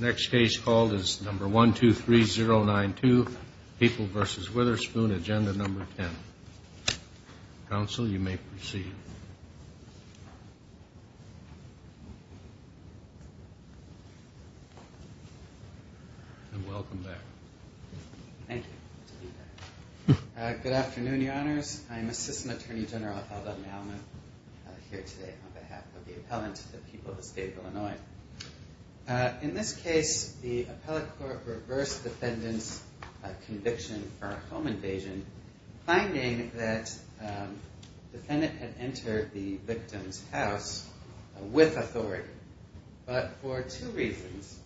Next case called is number 123092, People v. Witherspoon, agenda number 10. Council, you may proceed. And welcome back. Thank you. Good afternoon, your honors. I'm Assistant Attorney General Heldman here today on behalf of the appellant, the case, the appellate court reversed defendants conviction for home invasion, finding that defendant had entered the victim's house with authority. But for two reasons,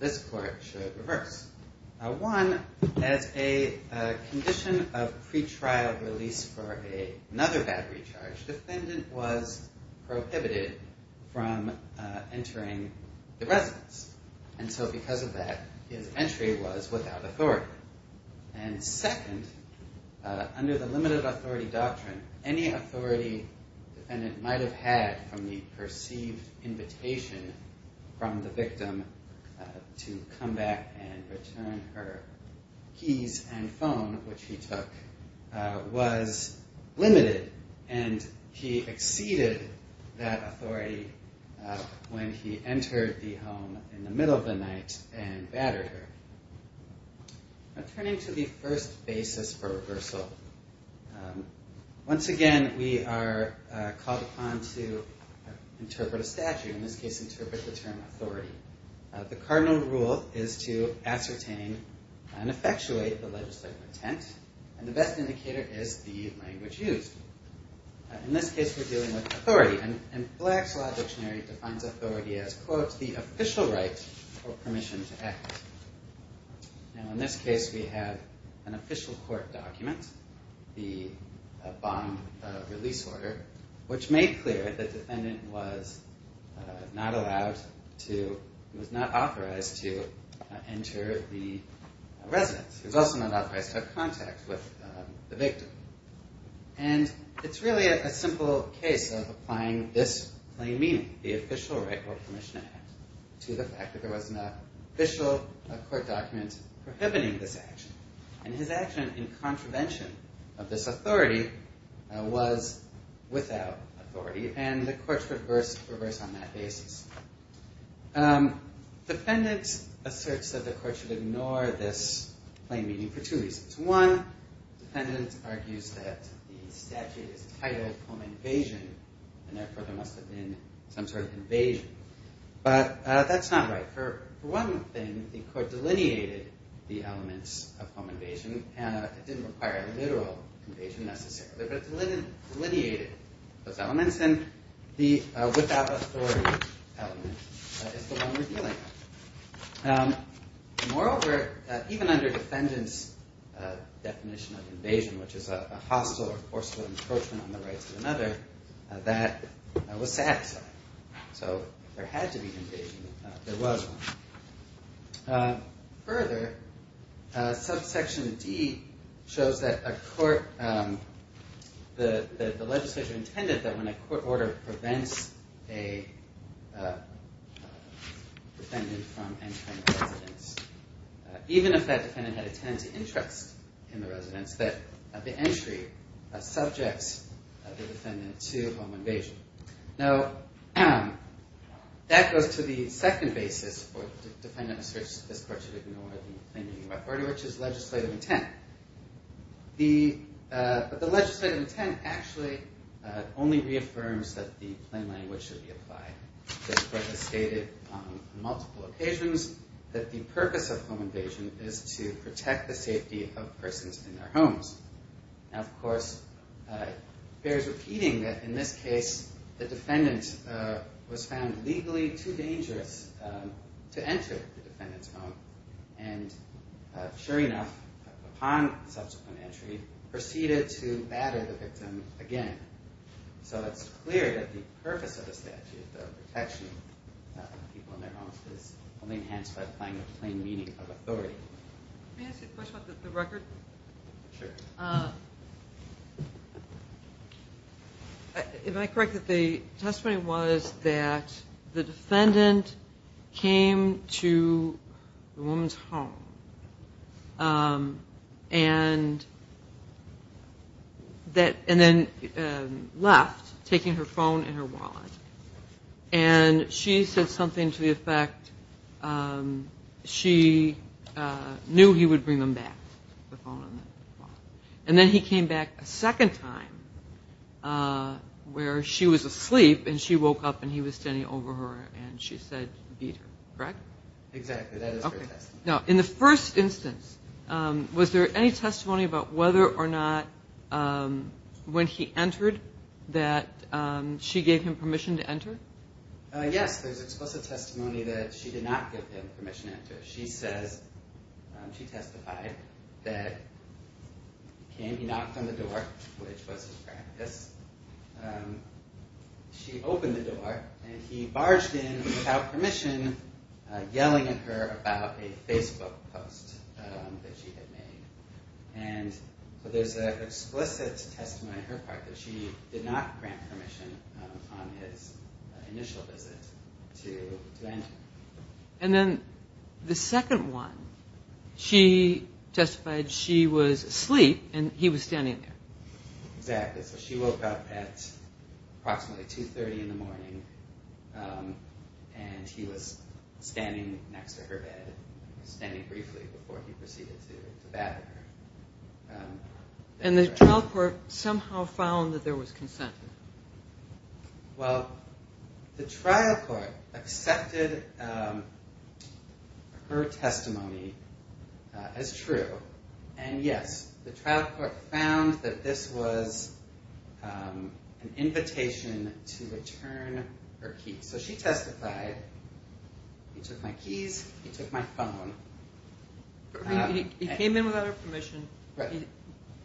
this court should reverse. One, as a condition of pretrial release for a another battery charge, defendant was prohibited from entering the residence. And so because of that, his entry was without authority. And second, under the limited authority doctrine, any authority defendant might have had from the perceived invitation from the victim to come back and return her keys and phone, which he took, was limited, and he when he entered the home in the middle of the night and battered her. Turning to the first basis for reversal. Once again, we are called upon to interpret a statute in this case, interpret the term authority. The cardinal rule is to ascertain and effectuate the legislative intent. And the best indicator is the language used. In this case, we're dealing with the official right or permission to act. Now, in this case, we have an official court document, the bond release order, which made clear that the defendant was not allowed to was not authorized to enter the residence is also not authorized to have contact with the victim. And it's really a simple case of this claim, meaning the official right or permission to the fact that there was an official court document prohibiting this action. And his action in contravention of this authority was without authority and the courts reversed reverse on that basis. Defendants asserts that the court should ignore this claim meeting for two reasons. One, defendant argues that the must have been some sort of invasion. But that's not right. For one thing, the court delineated the elements of home invasion, and it didn't require a literal invasion necessarily, but delineated, delineated those elements and the without authority. Moreover, even under defendants definition of invasion, which is a hostile or forceful encroachment on the was satisfied. So there had to be an invasion. There was further subsection D shows that a court the legislature intended that when a court order prevents a defendant from entering, even if that defendant had a tendency interest in the residence that the entry subjects the defendant to home invasion. Now, that goes to the second basis for defendant asserts this court should ignore the authority, which is legislative intent. The legislative intent actually only reaffirms that the plain language should be applied. This court has stated on multiple occasions that the purpose of home invasion is to protect the safety of persons in their homes. Now, of course, bears repeating that in this case, the defendant was found legally too dangerous to enter the defendant's home. And sure enough, upon subsequent entry, proceeded to batter the victim again. So it's clear that the purpose of the statute of protection of people in their homes is only enhanced by applying the plain meaning of correct that the testimony was that the defendant came to the woman's home and that and then left taking her phone and her wallet. And she said something to the effect she knew he would bring them back the phone. And then he came back a second time where she was asleep and she woke up and he was standing over her and she said, beat her, correct? Exactly. Now, in the first instance, was there any testimony about whether or not when he entered that she gave him permission to enter? Yes, there's explicit testimony that she did not give him permission to enter. She says, she testified that he knocked on the door and he barged in without permission, yelling at her about a Facebook post that she had made. And so there's an explicit testimony on her part that she did not grant permission on his initial visit to enter. And then the second one, she testified she was asleep and he was standing there. Exactly. So she woke up at approximately 2.30 in the morning and he was standing next to her bed, standing briefly before he proceeded to bat at her. And the trial court somehow found that there was consent? Well, the trial court accepted her testimony as true. And yes, the trial court found that this was an invitation to return her keys. So she testified, he took my keys, he took my phone. He came in without her permission,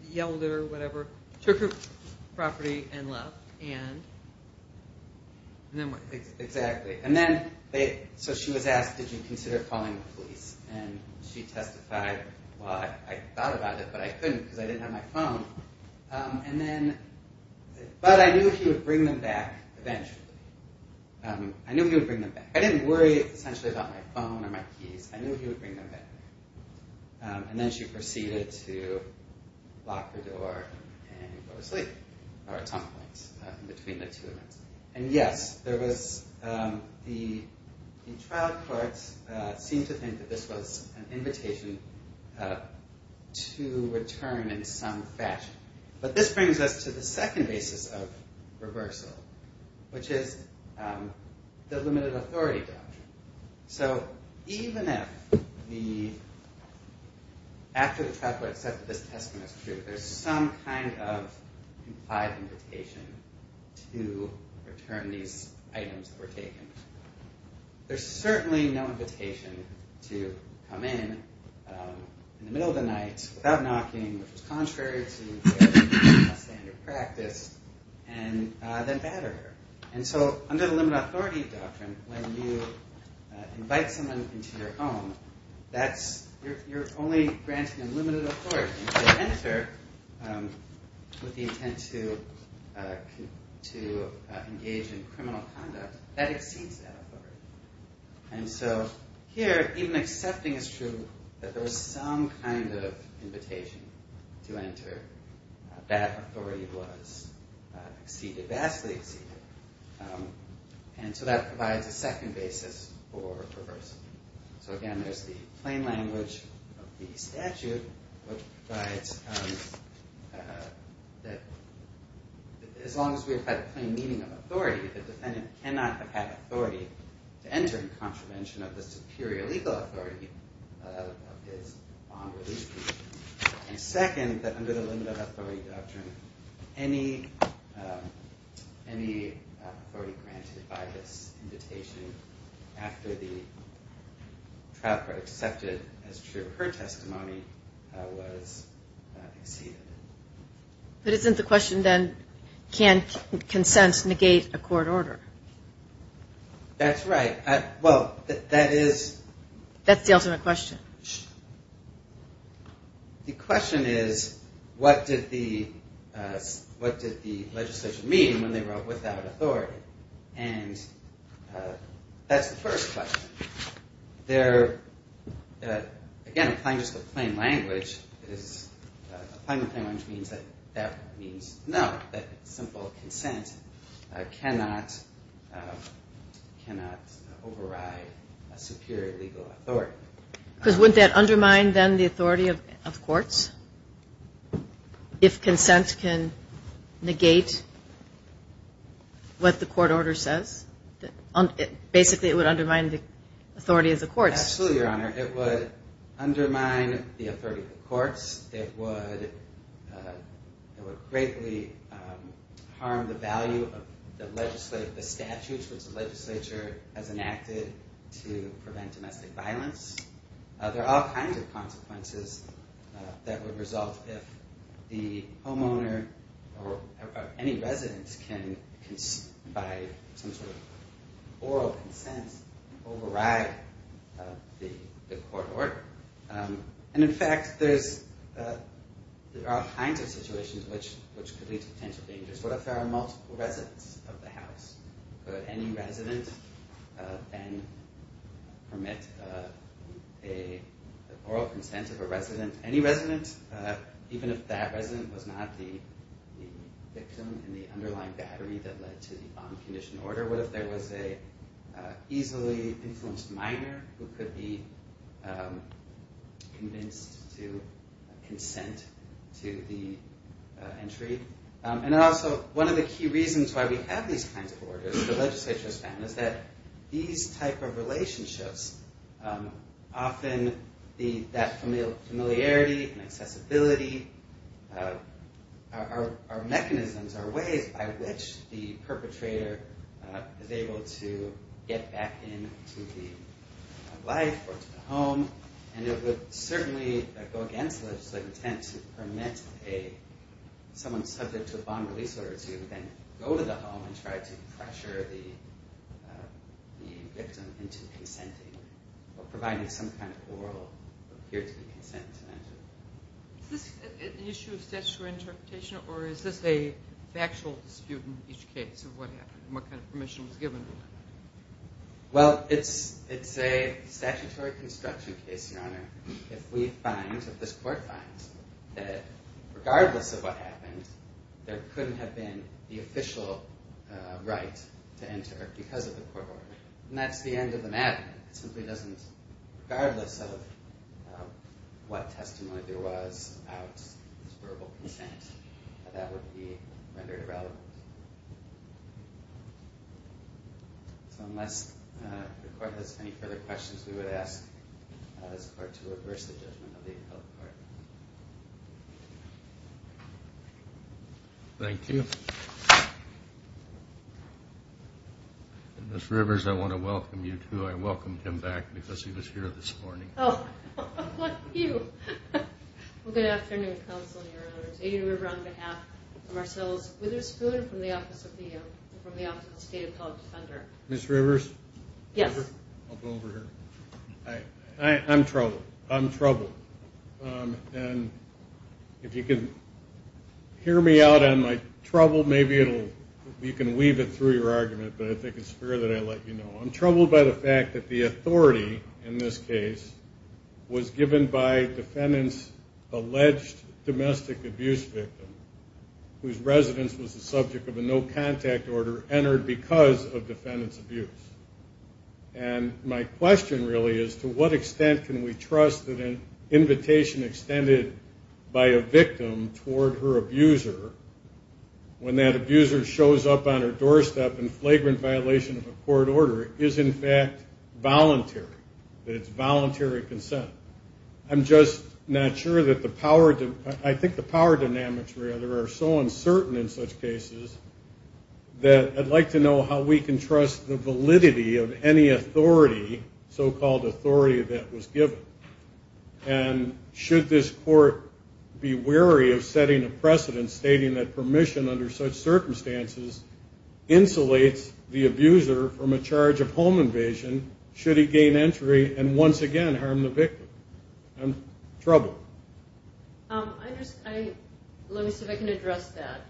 yelled at her, whatever, took her property and left. And then exactly. And then they, so she was asked, did you consider calling the police? And she testified, well, I thought about it, but I couldn't because I didn't have my phone. And then, but I knew he would bring them back eventually. I knew he would bring them back. I didn't worry essentially about my phone or my keys. I knew he would bring them back. And then she proceeded to lock the door and go to sleep, or at some point in between the And yes, there was, the trial courts seem to think that this was an invitation to return in some fashion. But this brings us to the second basis of reversal, which is the limited authority doctrine. So even if the, after the trial court said that this testimony is true, there's some kind of implied invitation to return these items that were taken. There's certainly no invitation to come in in the middle of the night without knocking, which is contrary to standard practice, and then batter her. And so under the limited authority doctrine, when you invite someone into your home, that's you're only granting them limited authority to enter with the intent to, to engage in criminal conduct that exceeds that authority. And so here, even accepting is true, that there's some kind of invitation to enter, that authority was exceeded, vastly exceeded. And so that provides a second basis for reversal. So again, there's the plain language of the that as long as we have had a plain meaning of authority, the defendant cannot have had authority to enter in contravention of the superior legal authority of his bond release. And second, that under the limited authority doctrine, any, any authority granted by this invitation, after the trial court accepted as true, her testimony was exceeded. But isn't the question then, can consent negate a court order? That's right. Well, that is, that's the ultimate question. The question is, what did the, what did the legislature mean when they wrote without authority? And that's the first question. They're, again, applying just the plain language that is, applying the plain language means that that means no, that simple consent cannot, cannot override a superior legal authority. Because wouldn't that undermine then the authority of courts? If consent can negate what the court order says? Basically, it would undermine the authority of the courts. Absolutely, Your Honor. It would undermine the authority of the courts, it would, it would greatly harm the value of the legislative, the statutes which the legislature has enacted to prevent domestic violence. There are all kinds of consequences that would result if the homeowner or any residents can, by some sort of oral consent, override the law. There are all kinds of situations which could lead to potential dangers. What if there are multiple residents of the house? Could any resident then permit a oral consent of a resident? Any resident, even if that resident was not the victim in the underlying battery that led to the bomb condition order? What if there was a easily influenced minor who could be convinced to consent to the entry? And also, one of the key reasons why we have these kinds of orders, the legislature has found, is that these type of relationships, often that familiarity and accessibility are mechanisms, are ways by which the perpetrator is able to get back into the life or to the home. And it would certainly go against legislative intent to permit a, someone subject to a bomb release order to then go to the home and try to pressure the victim into consenting or providing some kind of oral or peer-to-peer consent. Is this an issue of statutory interpretation, or is this a factual dispute in each case of what happened, what kind of permission was given? Well, it's a statutory construction case, Your Honor. If we find, if this court finds, that regardless of what happened, there couldn't have been the official right to enter because of the court order. And that's the end of the matter. It simply doesn't, regardless of what testimony there was about this verbal consent, that would be rendered irrelevant. So unless the court has any further questions, we would ask this court to reverse the judgment of the appellate court. Thank you. And Ms. Rivers, I want to welcome you too. I welcomed him back because he was here this morning. Oh, thank you. Well, good afternoon, Counsel, Your Honors. Aiden River on behalf of Marcellus Witherspoon from the Office of the State Appellate Defender. Ms. Rivers? Yes. I'll go over here. I'm troubled. I'm troubled. And if you can hear me out on my trouble, maybe it'll, you can weave it through your argument. But I think it's fair that I let you know. I'm troubled by the fact that the authority in this case was given by defendant's alleged domestic abuse victim, whose residence was the subject of a no contact order entered because of defendant's abuse. And my question really is, to what extent can we trust that an invitation extended by a victim toward her abuser, when that abuser shows up on her doorstep in flagrant violation of a court order, is in fact voluntary, that it's voluntary consent? I'm just not sure that the power, I think the power dynamics rather are so uncertain in such cases, that I'd like to know how we can trust the validity of any authority, so called authority that was given. And should this court be wary of setting a precedent stating that permission under such circumstances, insulates the abuser from a charge of home invasion, should he gain entry, and once again, harm the victim? I'm troubled. I just, I, let me see if I can address that.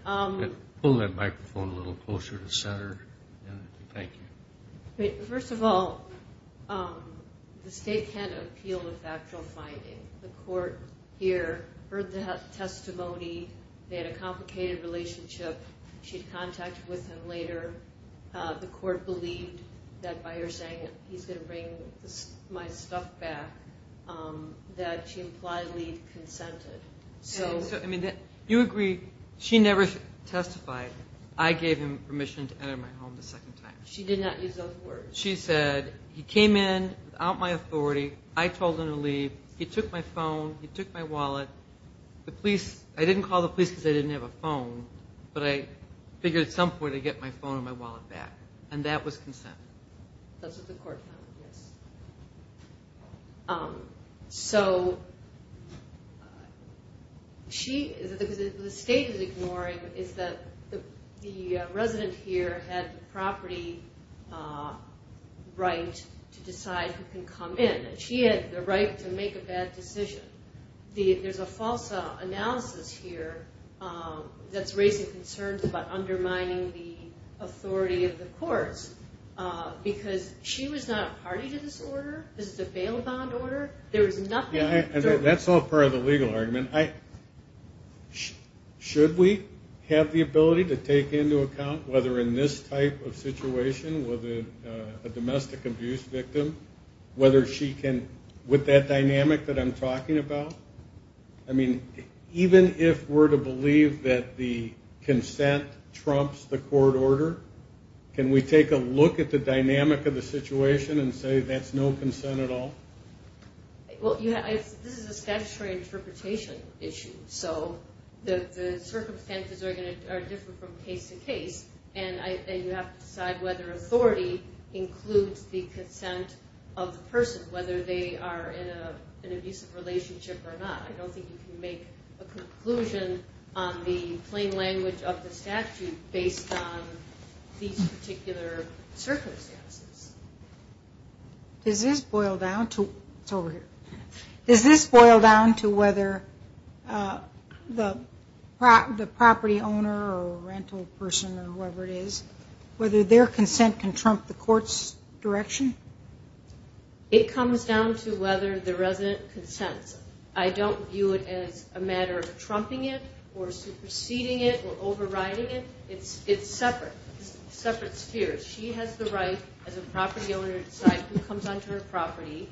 Pull that microphone a little closer to center. Thank you. First of all, the state had an appeal of factual finding. The court here heard the testimony. They had a complicated relationship. She'd contacted with him later. The court believed that by her saying, he's going to bring my stuff back, that she impliedly consented. So, I mean, you agree, she never testified. I gave him permission to enter my home the second time. She did not use those words. She said, he came in without my authority. I told him to leave. He took my phone, he took my wallet. The police, I didn't call the police because I didn't have a phone. But I figured at least I could get my phone and my wallet back. And that was consent. That's what the court found, yes. So, she, the state is ignoring, is that the resident here had property right to decide who can come in, and she had the right to make a bad decision. There's a false analysis here that's raising concerns about undermining the authority of the courts, because she was not a party to this order. This is a bail bond order. There was nothing. That's all part of the legal argument. Should we have the ability to take into account whether in this type of situation with a domestic abuse victim, whether she can, with that dynamic that I'm talking about, I mean, even if we're to consent trumps the court order, can we take a look at the dynamic of the situation and say that's no consent at all? Well, this is a statutory interpretation issue. So, the circumstances are different from case to case. And you have to decide whether authority includes the consent of the person, whether they are in an abusive relationship or not. I don't view it as a matter of trumping it or superseding it or overriding it. It's separate, separate spheres. She has the right, as a property owner, to decide who comes onto her property.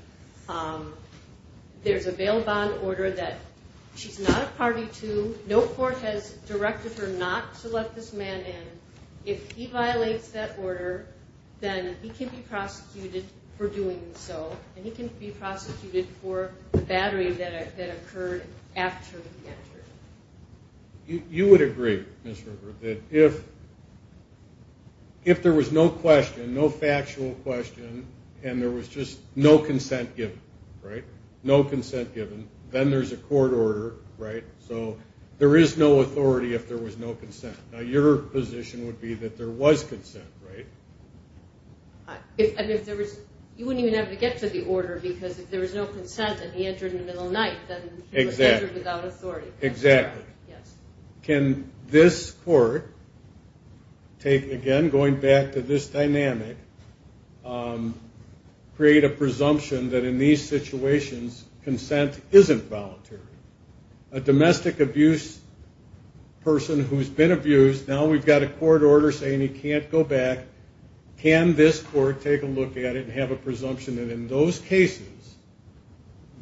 There's a bail bond order that she's not a party to. No court has directed her not to let this man in. If he violates that order, then he can be prosecuted for doing so. And he can be prosecuted for the battery that occurred after he did. If there was no question, no factual question, and there was just no consent given, right? No consent given, then there's a court order, right? So, there is no authority if there was no consent. Now, your position would be that there was consent, right? If there was, you wouldn't even have to get to the order, because if there was no consent, and he entered in the middle night, then he was entered without authority. Exactly. Can this court take, again, going back to this dynamic, create a presumption that in these situations, consent isn't voluntary. A domestic abuse person who's been abused, now we've got a court order saying he can't go back. Can this court take a look at it and have a presumption that in those cases,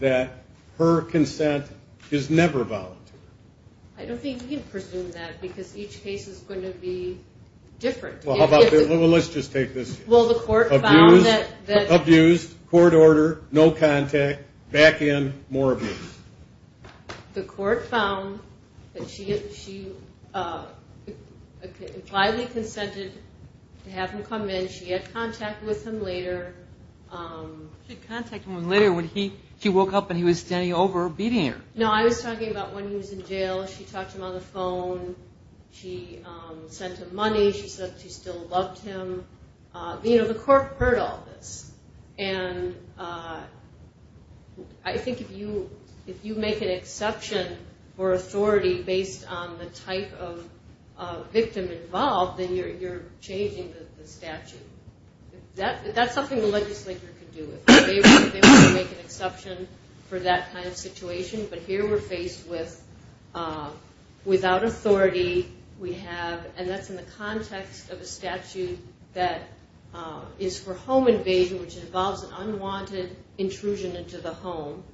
that her consent is never voluntary? I don't think you can presume that, because each case is going to be different. Well, how about this? Well, let's just take this. Well, the court found that... Abused, court order, no contact, back in, more abuse. The court found that she fully consented to have him come in. She had contact with him later. She had contact with him later when he, she woke up and he was standing over her, beating her. No, I was talking about when he was in jail, she talked to him on the phone. She sent him money. She said she still loved him. You know, the court heard all this. And I think if you make an exception for authority based on the type of victim involved, then you're changing the statute. That's something the legislature could do. If they were to make an exception for that kind of situation, but here we're faced with, without authority, we have, and that's in the context of a statute that is for home invasion, which involves an unwanted intrusion into the home.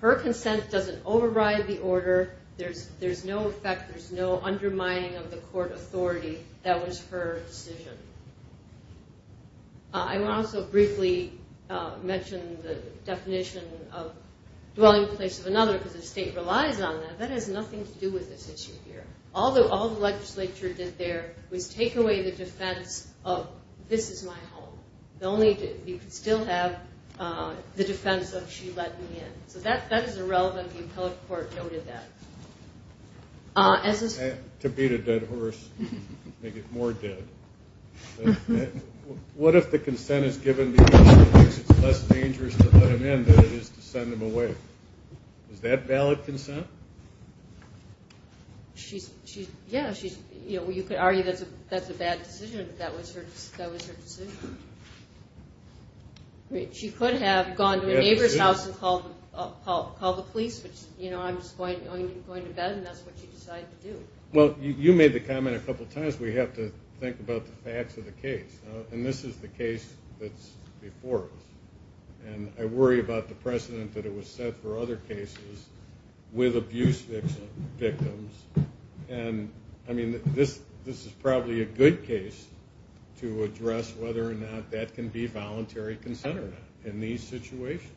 Her consent doesn't override the order. There's no effect. There's no undermining of the court authority. That was her decision. I will also briefly mention the definition of dwelling place of another because the state relies on that. That has nothing to do with this issue here. All the legislature did there was take away the defense of, this is my home. The only, you could still have the defense of, she let me in. So that is irrelevant. The appellate court noted that. To beat a dead horse, make it more dead. What if the consent is given because it's less dangerous to let him in than it is to send him away? Is that valid consent? She's, yeah, she's, you know, you could argue that's a bad decision, but that was her decision. She could have gone to a neighbor's house and called the police, which, you know, I'm just going to bed and that's what she decided to do. Well, you made the comment a couple times, we have to think about the facts of the case. And this is the case that's before us. And I worry about the precedent that it was set for other cases with abuse victims. And I mean, this, this is probably a good case to address whether or not that can be in these situations.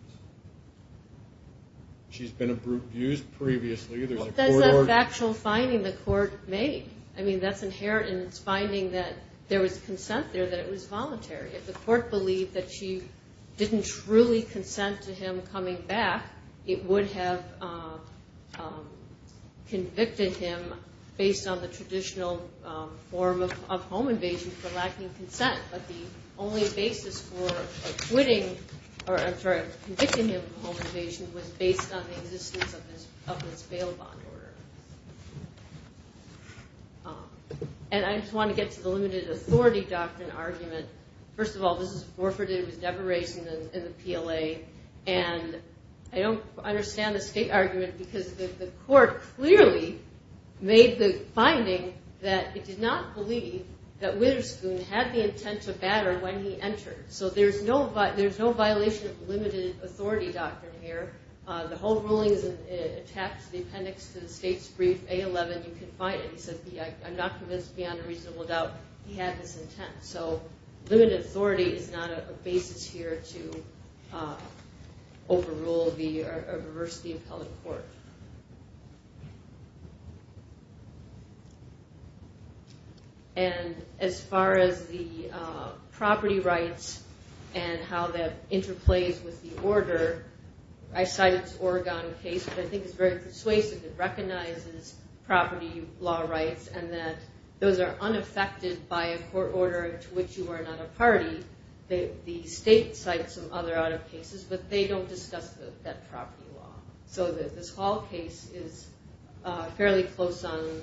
She's been abused previously. There's a factual finding the court made. I mean, that's inherent in its finding that there was consent there that it was voluntary. If the court believed that she didn't truly consent to him coming back, it would have convicted him based on the traditional form of home invasion for lacking consent. But the only basis for quitting, or I'm sorry, for convicting him of home invasion was based on the existence of his bail bond order. And I just want to get to the limited authority doctrine argument. First of all, this is forfeited with deperation in the PLA. And I don't understand the state argument because the court clearly made the finding that it did not believe that consent to batter when he entered. So there's no, there's no violation of limited authority doctrine here. The whole ruling is attached to the appendix to the state's brief A-11. You can find it. He said, I'm not convinced beyond a reasonable doubt he had this intent. So limited authority is not a basis here to overrule or reverse the appellate court. And as far as the property rights, and how that interplays with the order, I cited Oregon case, which I think is very persuasive, it recognizes property law rights, and that those are unaffected by a court order to which you are not a party. The state cites some other out of cases, but they don't discuss that property law. So this Hall case is fairly close on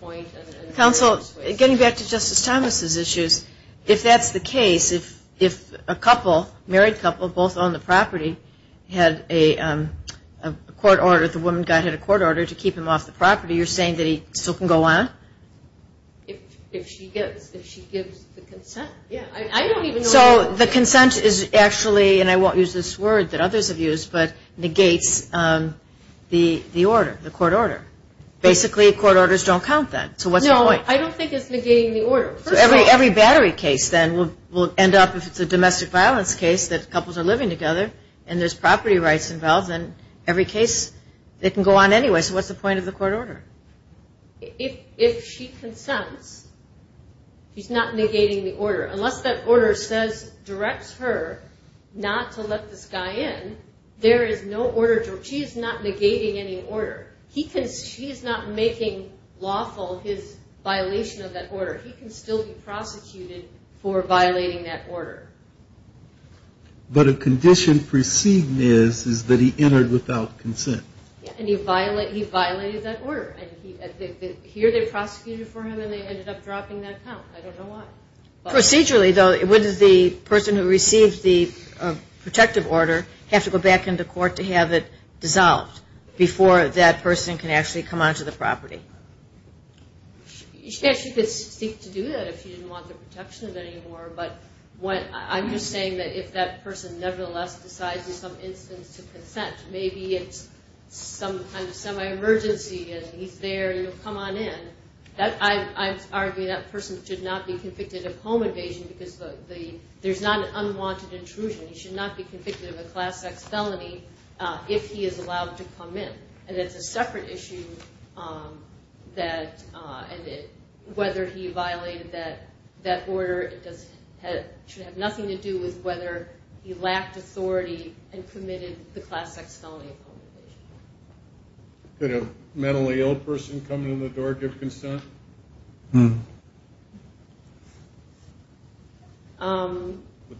point. Counsel, getting back to Justice Thomas's issues, if that's the case, if a couple, married couple, both on the property, had a court order, the woman got a court order to keep him off the property, you're saying that he still can go on? If she gives, if she gives the consent. Yeah. I don't even know. So the consent is actually, and I won't use this word, that others have used, but negates the order, the court order. Basically, court orders don't count that. So what's the point? I don't think it's negating the order. So every battery case then will end up, if it's a domestic violence case, that couples are living together, and there's property rights involved in every case, they can go on anyway. So what's the point of the court order? If she consents, she's not negating the order, unless that order says, directs her not to let this guy in, there is no order to, she's not negating any order. He can, she's not making lawful his violation of that order. He can still be prosecuted for violating that order. But a condition preceding this is that he entered without consent. And he violated, he violated that order. And here they prosecuted for him and they ended up dropping that count. I don't know why. Procedurally, though, would the person who received the protective order have to go back into court to have it dissolved before that person can actually come onto the property? Yes, you could seek to do that if you didn't want the protection of it anymore. But what I'm just saying that if that person nevertheless decides in some instance to consent, maybe it's some kind of semi-emergency and he's there, you know, come on in. I argue that person should not be convicted of home invasion because there's not an unwanted intrusion. He should not be convicted of a class sex felony if he is allowed to come in. And it's a separate issue that whether he violated that order, it should have nothing to do with whether he lacked authority and committed the class sex felony. Could a mentally ill person come in the door, give consent? Would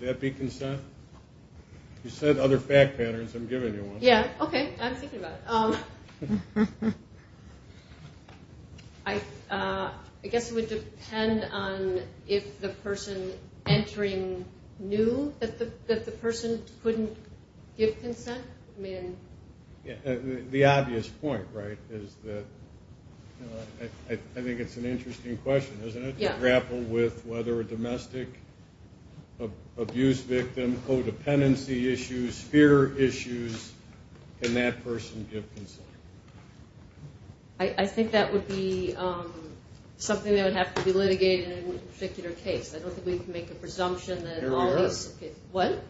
that be consent? You said other fact patterns. I'm giving you one. Yeah. OK, I'm thinking about it. I guess it would depend on if the person entering knew that the person couldn't give consent. I mean, the obvious point, right, is that I think it's an interesting question, isn't it? Yeah. To grapple with whether a domestic abuse victim, codependency issues, fear issues, can that person give consent? I think that would be something that would have to be litigated in a particular case. I don't think we can make a presumption that all these Here we are. What?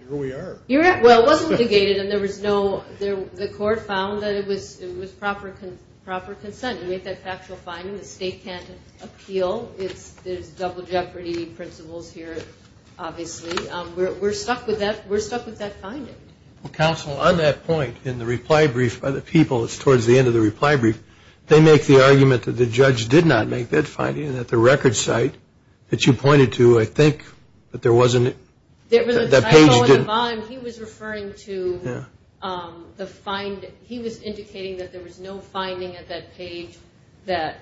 Here we are. Well, it wasn't litigated and there was no, the court found that it was proper consent. We have that factual finding. The state can't appeal. It's, there's double jeopardy principles here, obviously. We're stuck with that. We're stuck with that finding. Well, counsel, on that point, in the reply brief by the people, it's towards the end of the reply brief, they make the argument that the judge did not make that finding and that the record site that you pointed to, I think that there wasn't, that page didn't. I know in the bond, he was referring to the find, he was that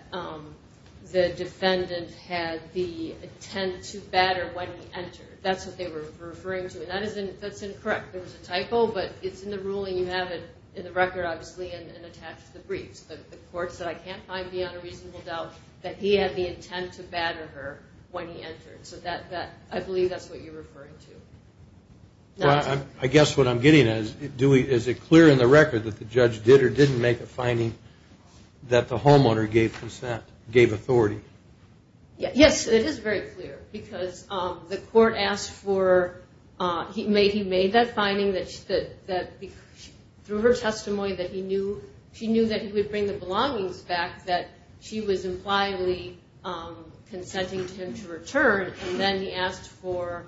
the defendant had the intent to batter when he entered, that's what they were referring to. And that isn't, that's incorrect. There was a typo, but it's in the ruling. You have it in the record, obviously, and attached to the briefs, but the court said, I can't find beyond a reasonable doubt that he had the intent to batter her when he entered. So that, that, I believe that's what you're referring to. Well, I guess what I'm getting at is, do we, is it clear in the record that the judge did or didn't make a finding that the homeowner gave consent, gave authority? Yes, it is very clear because the court asked for, he made, he made that finding that, that, that through her testimony, that he knew, she knew that he would bring the belongings back, that she was impliedly consenting to him to return. And then he asked for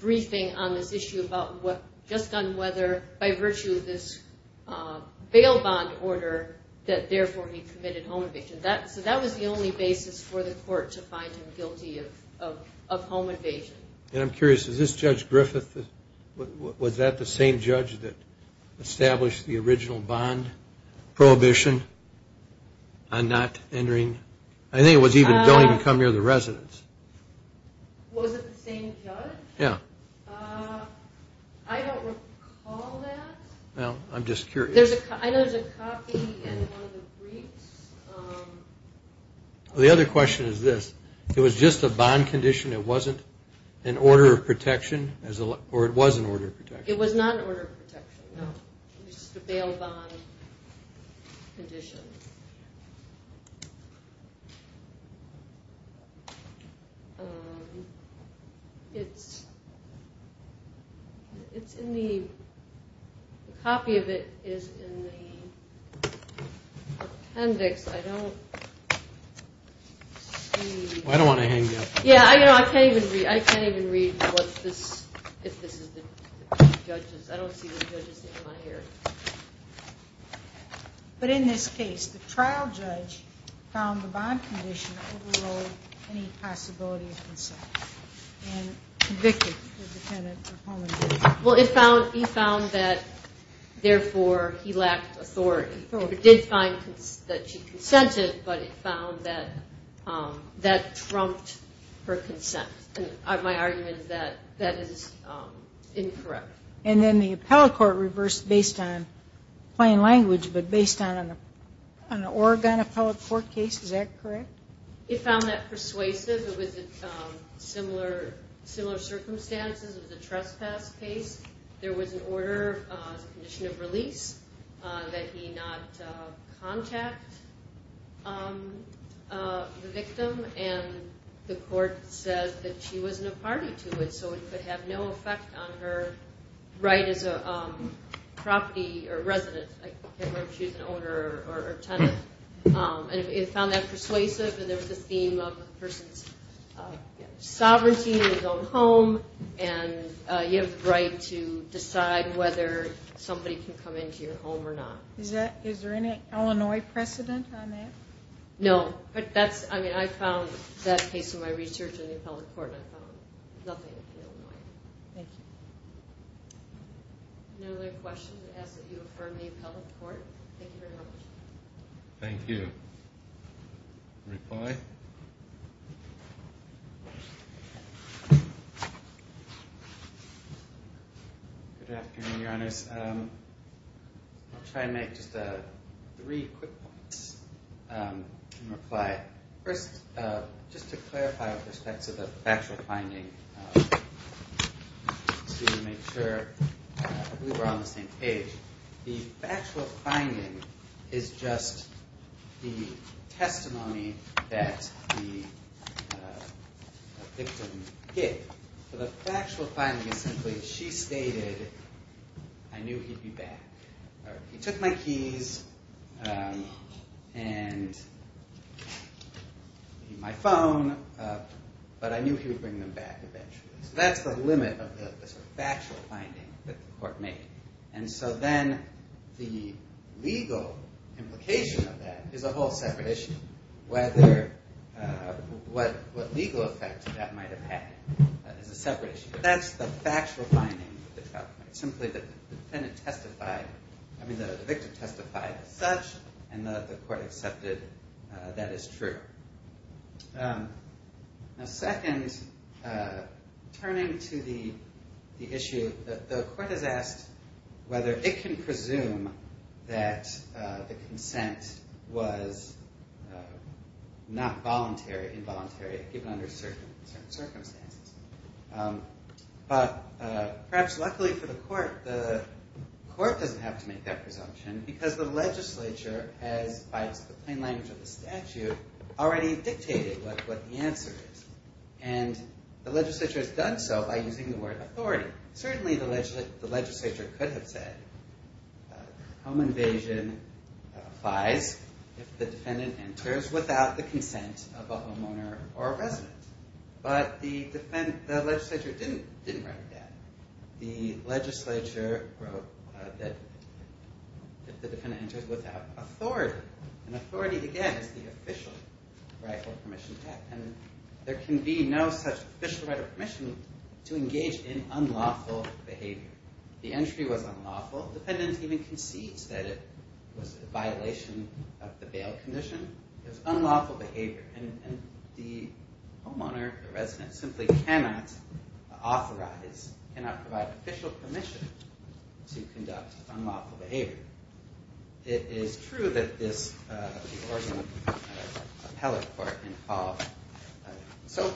briefing on this issue about what, just on whether, by virtue of this bail bond order, that therefore he committed home invasion. That, so that was the only basis for the court to find him guilty of, of, of home invasion. And I'm curious, is this Judge Griffith, was that the same judge that established the original bond prohibition on not entering? I think it was even going to come near the residence. Was it the same judge? Yeah. Uh, I don't recall that. Well, I'm just curious. There's a, I know there's a copy in one of the briefs. Um. Well, the other question is this, it was just a bond condition. It wasn't an order of protection as a, or it was an order of protection. It was not an order of protection. No, it was just a bail bond condition. Um, it's, it's in the, the copy of it is in the appendix. I don't see. Well, I don't want to hang you up. Yeah, I know. I can't even read, I can't even read what this, if this is the judges, I don't see the judges name on here. But in this case, the trial judge found the bond condition overruled any possibility of consent and convicted the defendant of homicide. Well, it found, he found that therefore he lacked authority. He did find that she consented, but it found that, um, that trumped her consent. And my argument is that that is, um, incorrect. And then the appellate court reversed based on plain language, but based on, on the Oregon appellate court case. Is that correct? It found that persuasive. It was a, um, similar, similar circumstances. It was a trespass case. There was an order, uh, as a condition of release, uh, that he not, uh, contact, um, uh, the victim. And the court says that she wasn't a party to it. So it could have no effect on her right as a, um, property or resident, like if she's an owner or tenant, um, and it found that persuasive and there was a theme of the person's, uh, sovereignty in his own home. And, uh, you have the right to decide whether somebody can come into your home or not. Is that, is there any Illinois precedent on that? No, but that's, I mean, I found that case in my research in the Thank you. No other questions as you affirm the appellate court. Thank you very much. Thank you. Reply. Good afternoon, your honors. Um, I'll try and make just a three quick points. Um, and reply first, uh, just to clarify with respect to the actual finding, uh, to make sure we were on the same page. The actual finding is just the testimony that the victim hit. So the factual finding is simply, she stated, I knew he'd be back. All right. He took my keys, um, and my phone. Uh, but I knew he would bring them back eventually. So that's the limit of the sort of factual finding that the court made. And so then the legal implication of that is a whole separate issue. Whether, uh, what, what legal effects that might've had is a separate issue. That's the factual finding. Simply the defendant testified, I mean, the victim testified as such, and the court accepted that as true. Um, now second, uh, turning to the, the issue that the court has asked whether it can presume that, uh, the consent was, uh, not voluntary, involuntary, given under certain circumstances. Um, but, uh, perhaps luckily for the court, the court doesn't have to make that presumption because the legislature has, by the plain language of the court, already dictated what, what the answer is and the legislature has done so by using the word authority. Certainly the legislature, the legislature could have said, uh, home invasion applies if the defendant enters without the consent of a homeowner or resident, but the defendant, the legislature didn't, didn't write that. The legislature wrote that the defendant enters without authority and authority again is the official rightful permission. And there can be no such official right or permission to engage in unlawful behavior. The entry was unlawful. The defendant even concedes that it was a violation of the bail condition, it was unlawful behavior. And the homeowner, the resident simply cannot authorize, cannot provide official permission to conduct unlawful behavior. It is true that this, uh, the Oregon, uh, appellate court involved, uh, so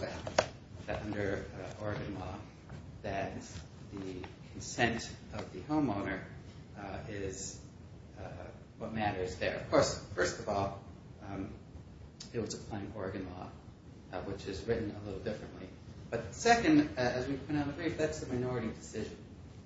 that under Oregon law that the consent of the homeowner, uh, is, uh, what matters there, of course, first of all, um, it was a plain Oregon law, uh, which is written a little differently, but second, as we've been on the brief, that's a minority decision.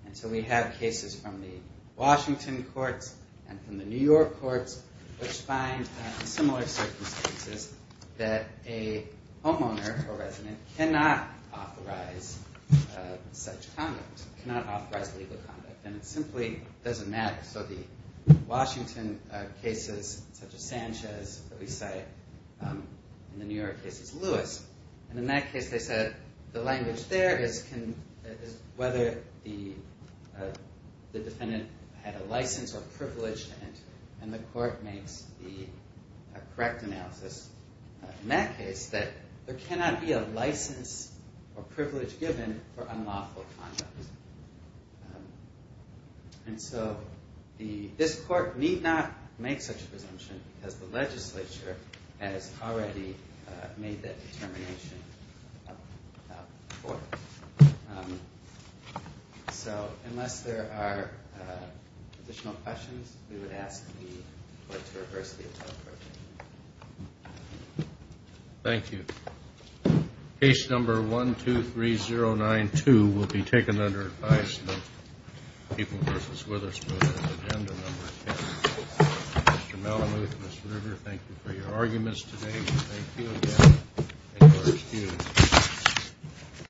And so we have cases from the Washington courts and from the New York courts, which find similar circumstances that a homeowner or resident cannot authorize, uh, such conduct, cannot authorize legal conduct. And it simply doesn't matter. So the Washington cases such as Sanchez that we say, um, in the New York cases, and in that case, they said the language there is, can, is whether the, uh, the defendant had a license or privilege and, and the court makes the correct analysis, uh, in that case that there cannot be a license or privilege given for unlawful conduct. And so the, this court need not make such a presumption because the legislature has already, uh, made that determination, uh, um, so unless there are, uh, additional questions, we would ask the court to reverse the appellate procedure. Thank you. Case number one, two, three, zero nine two will be taken under advice of people versus with us. Agenda number Mr. Malamute, Mr. River, thank you for your arguments today. Thank you.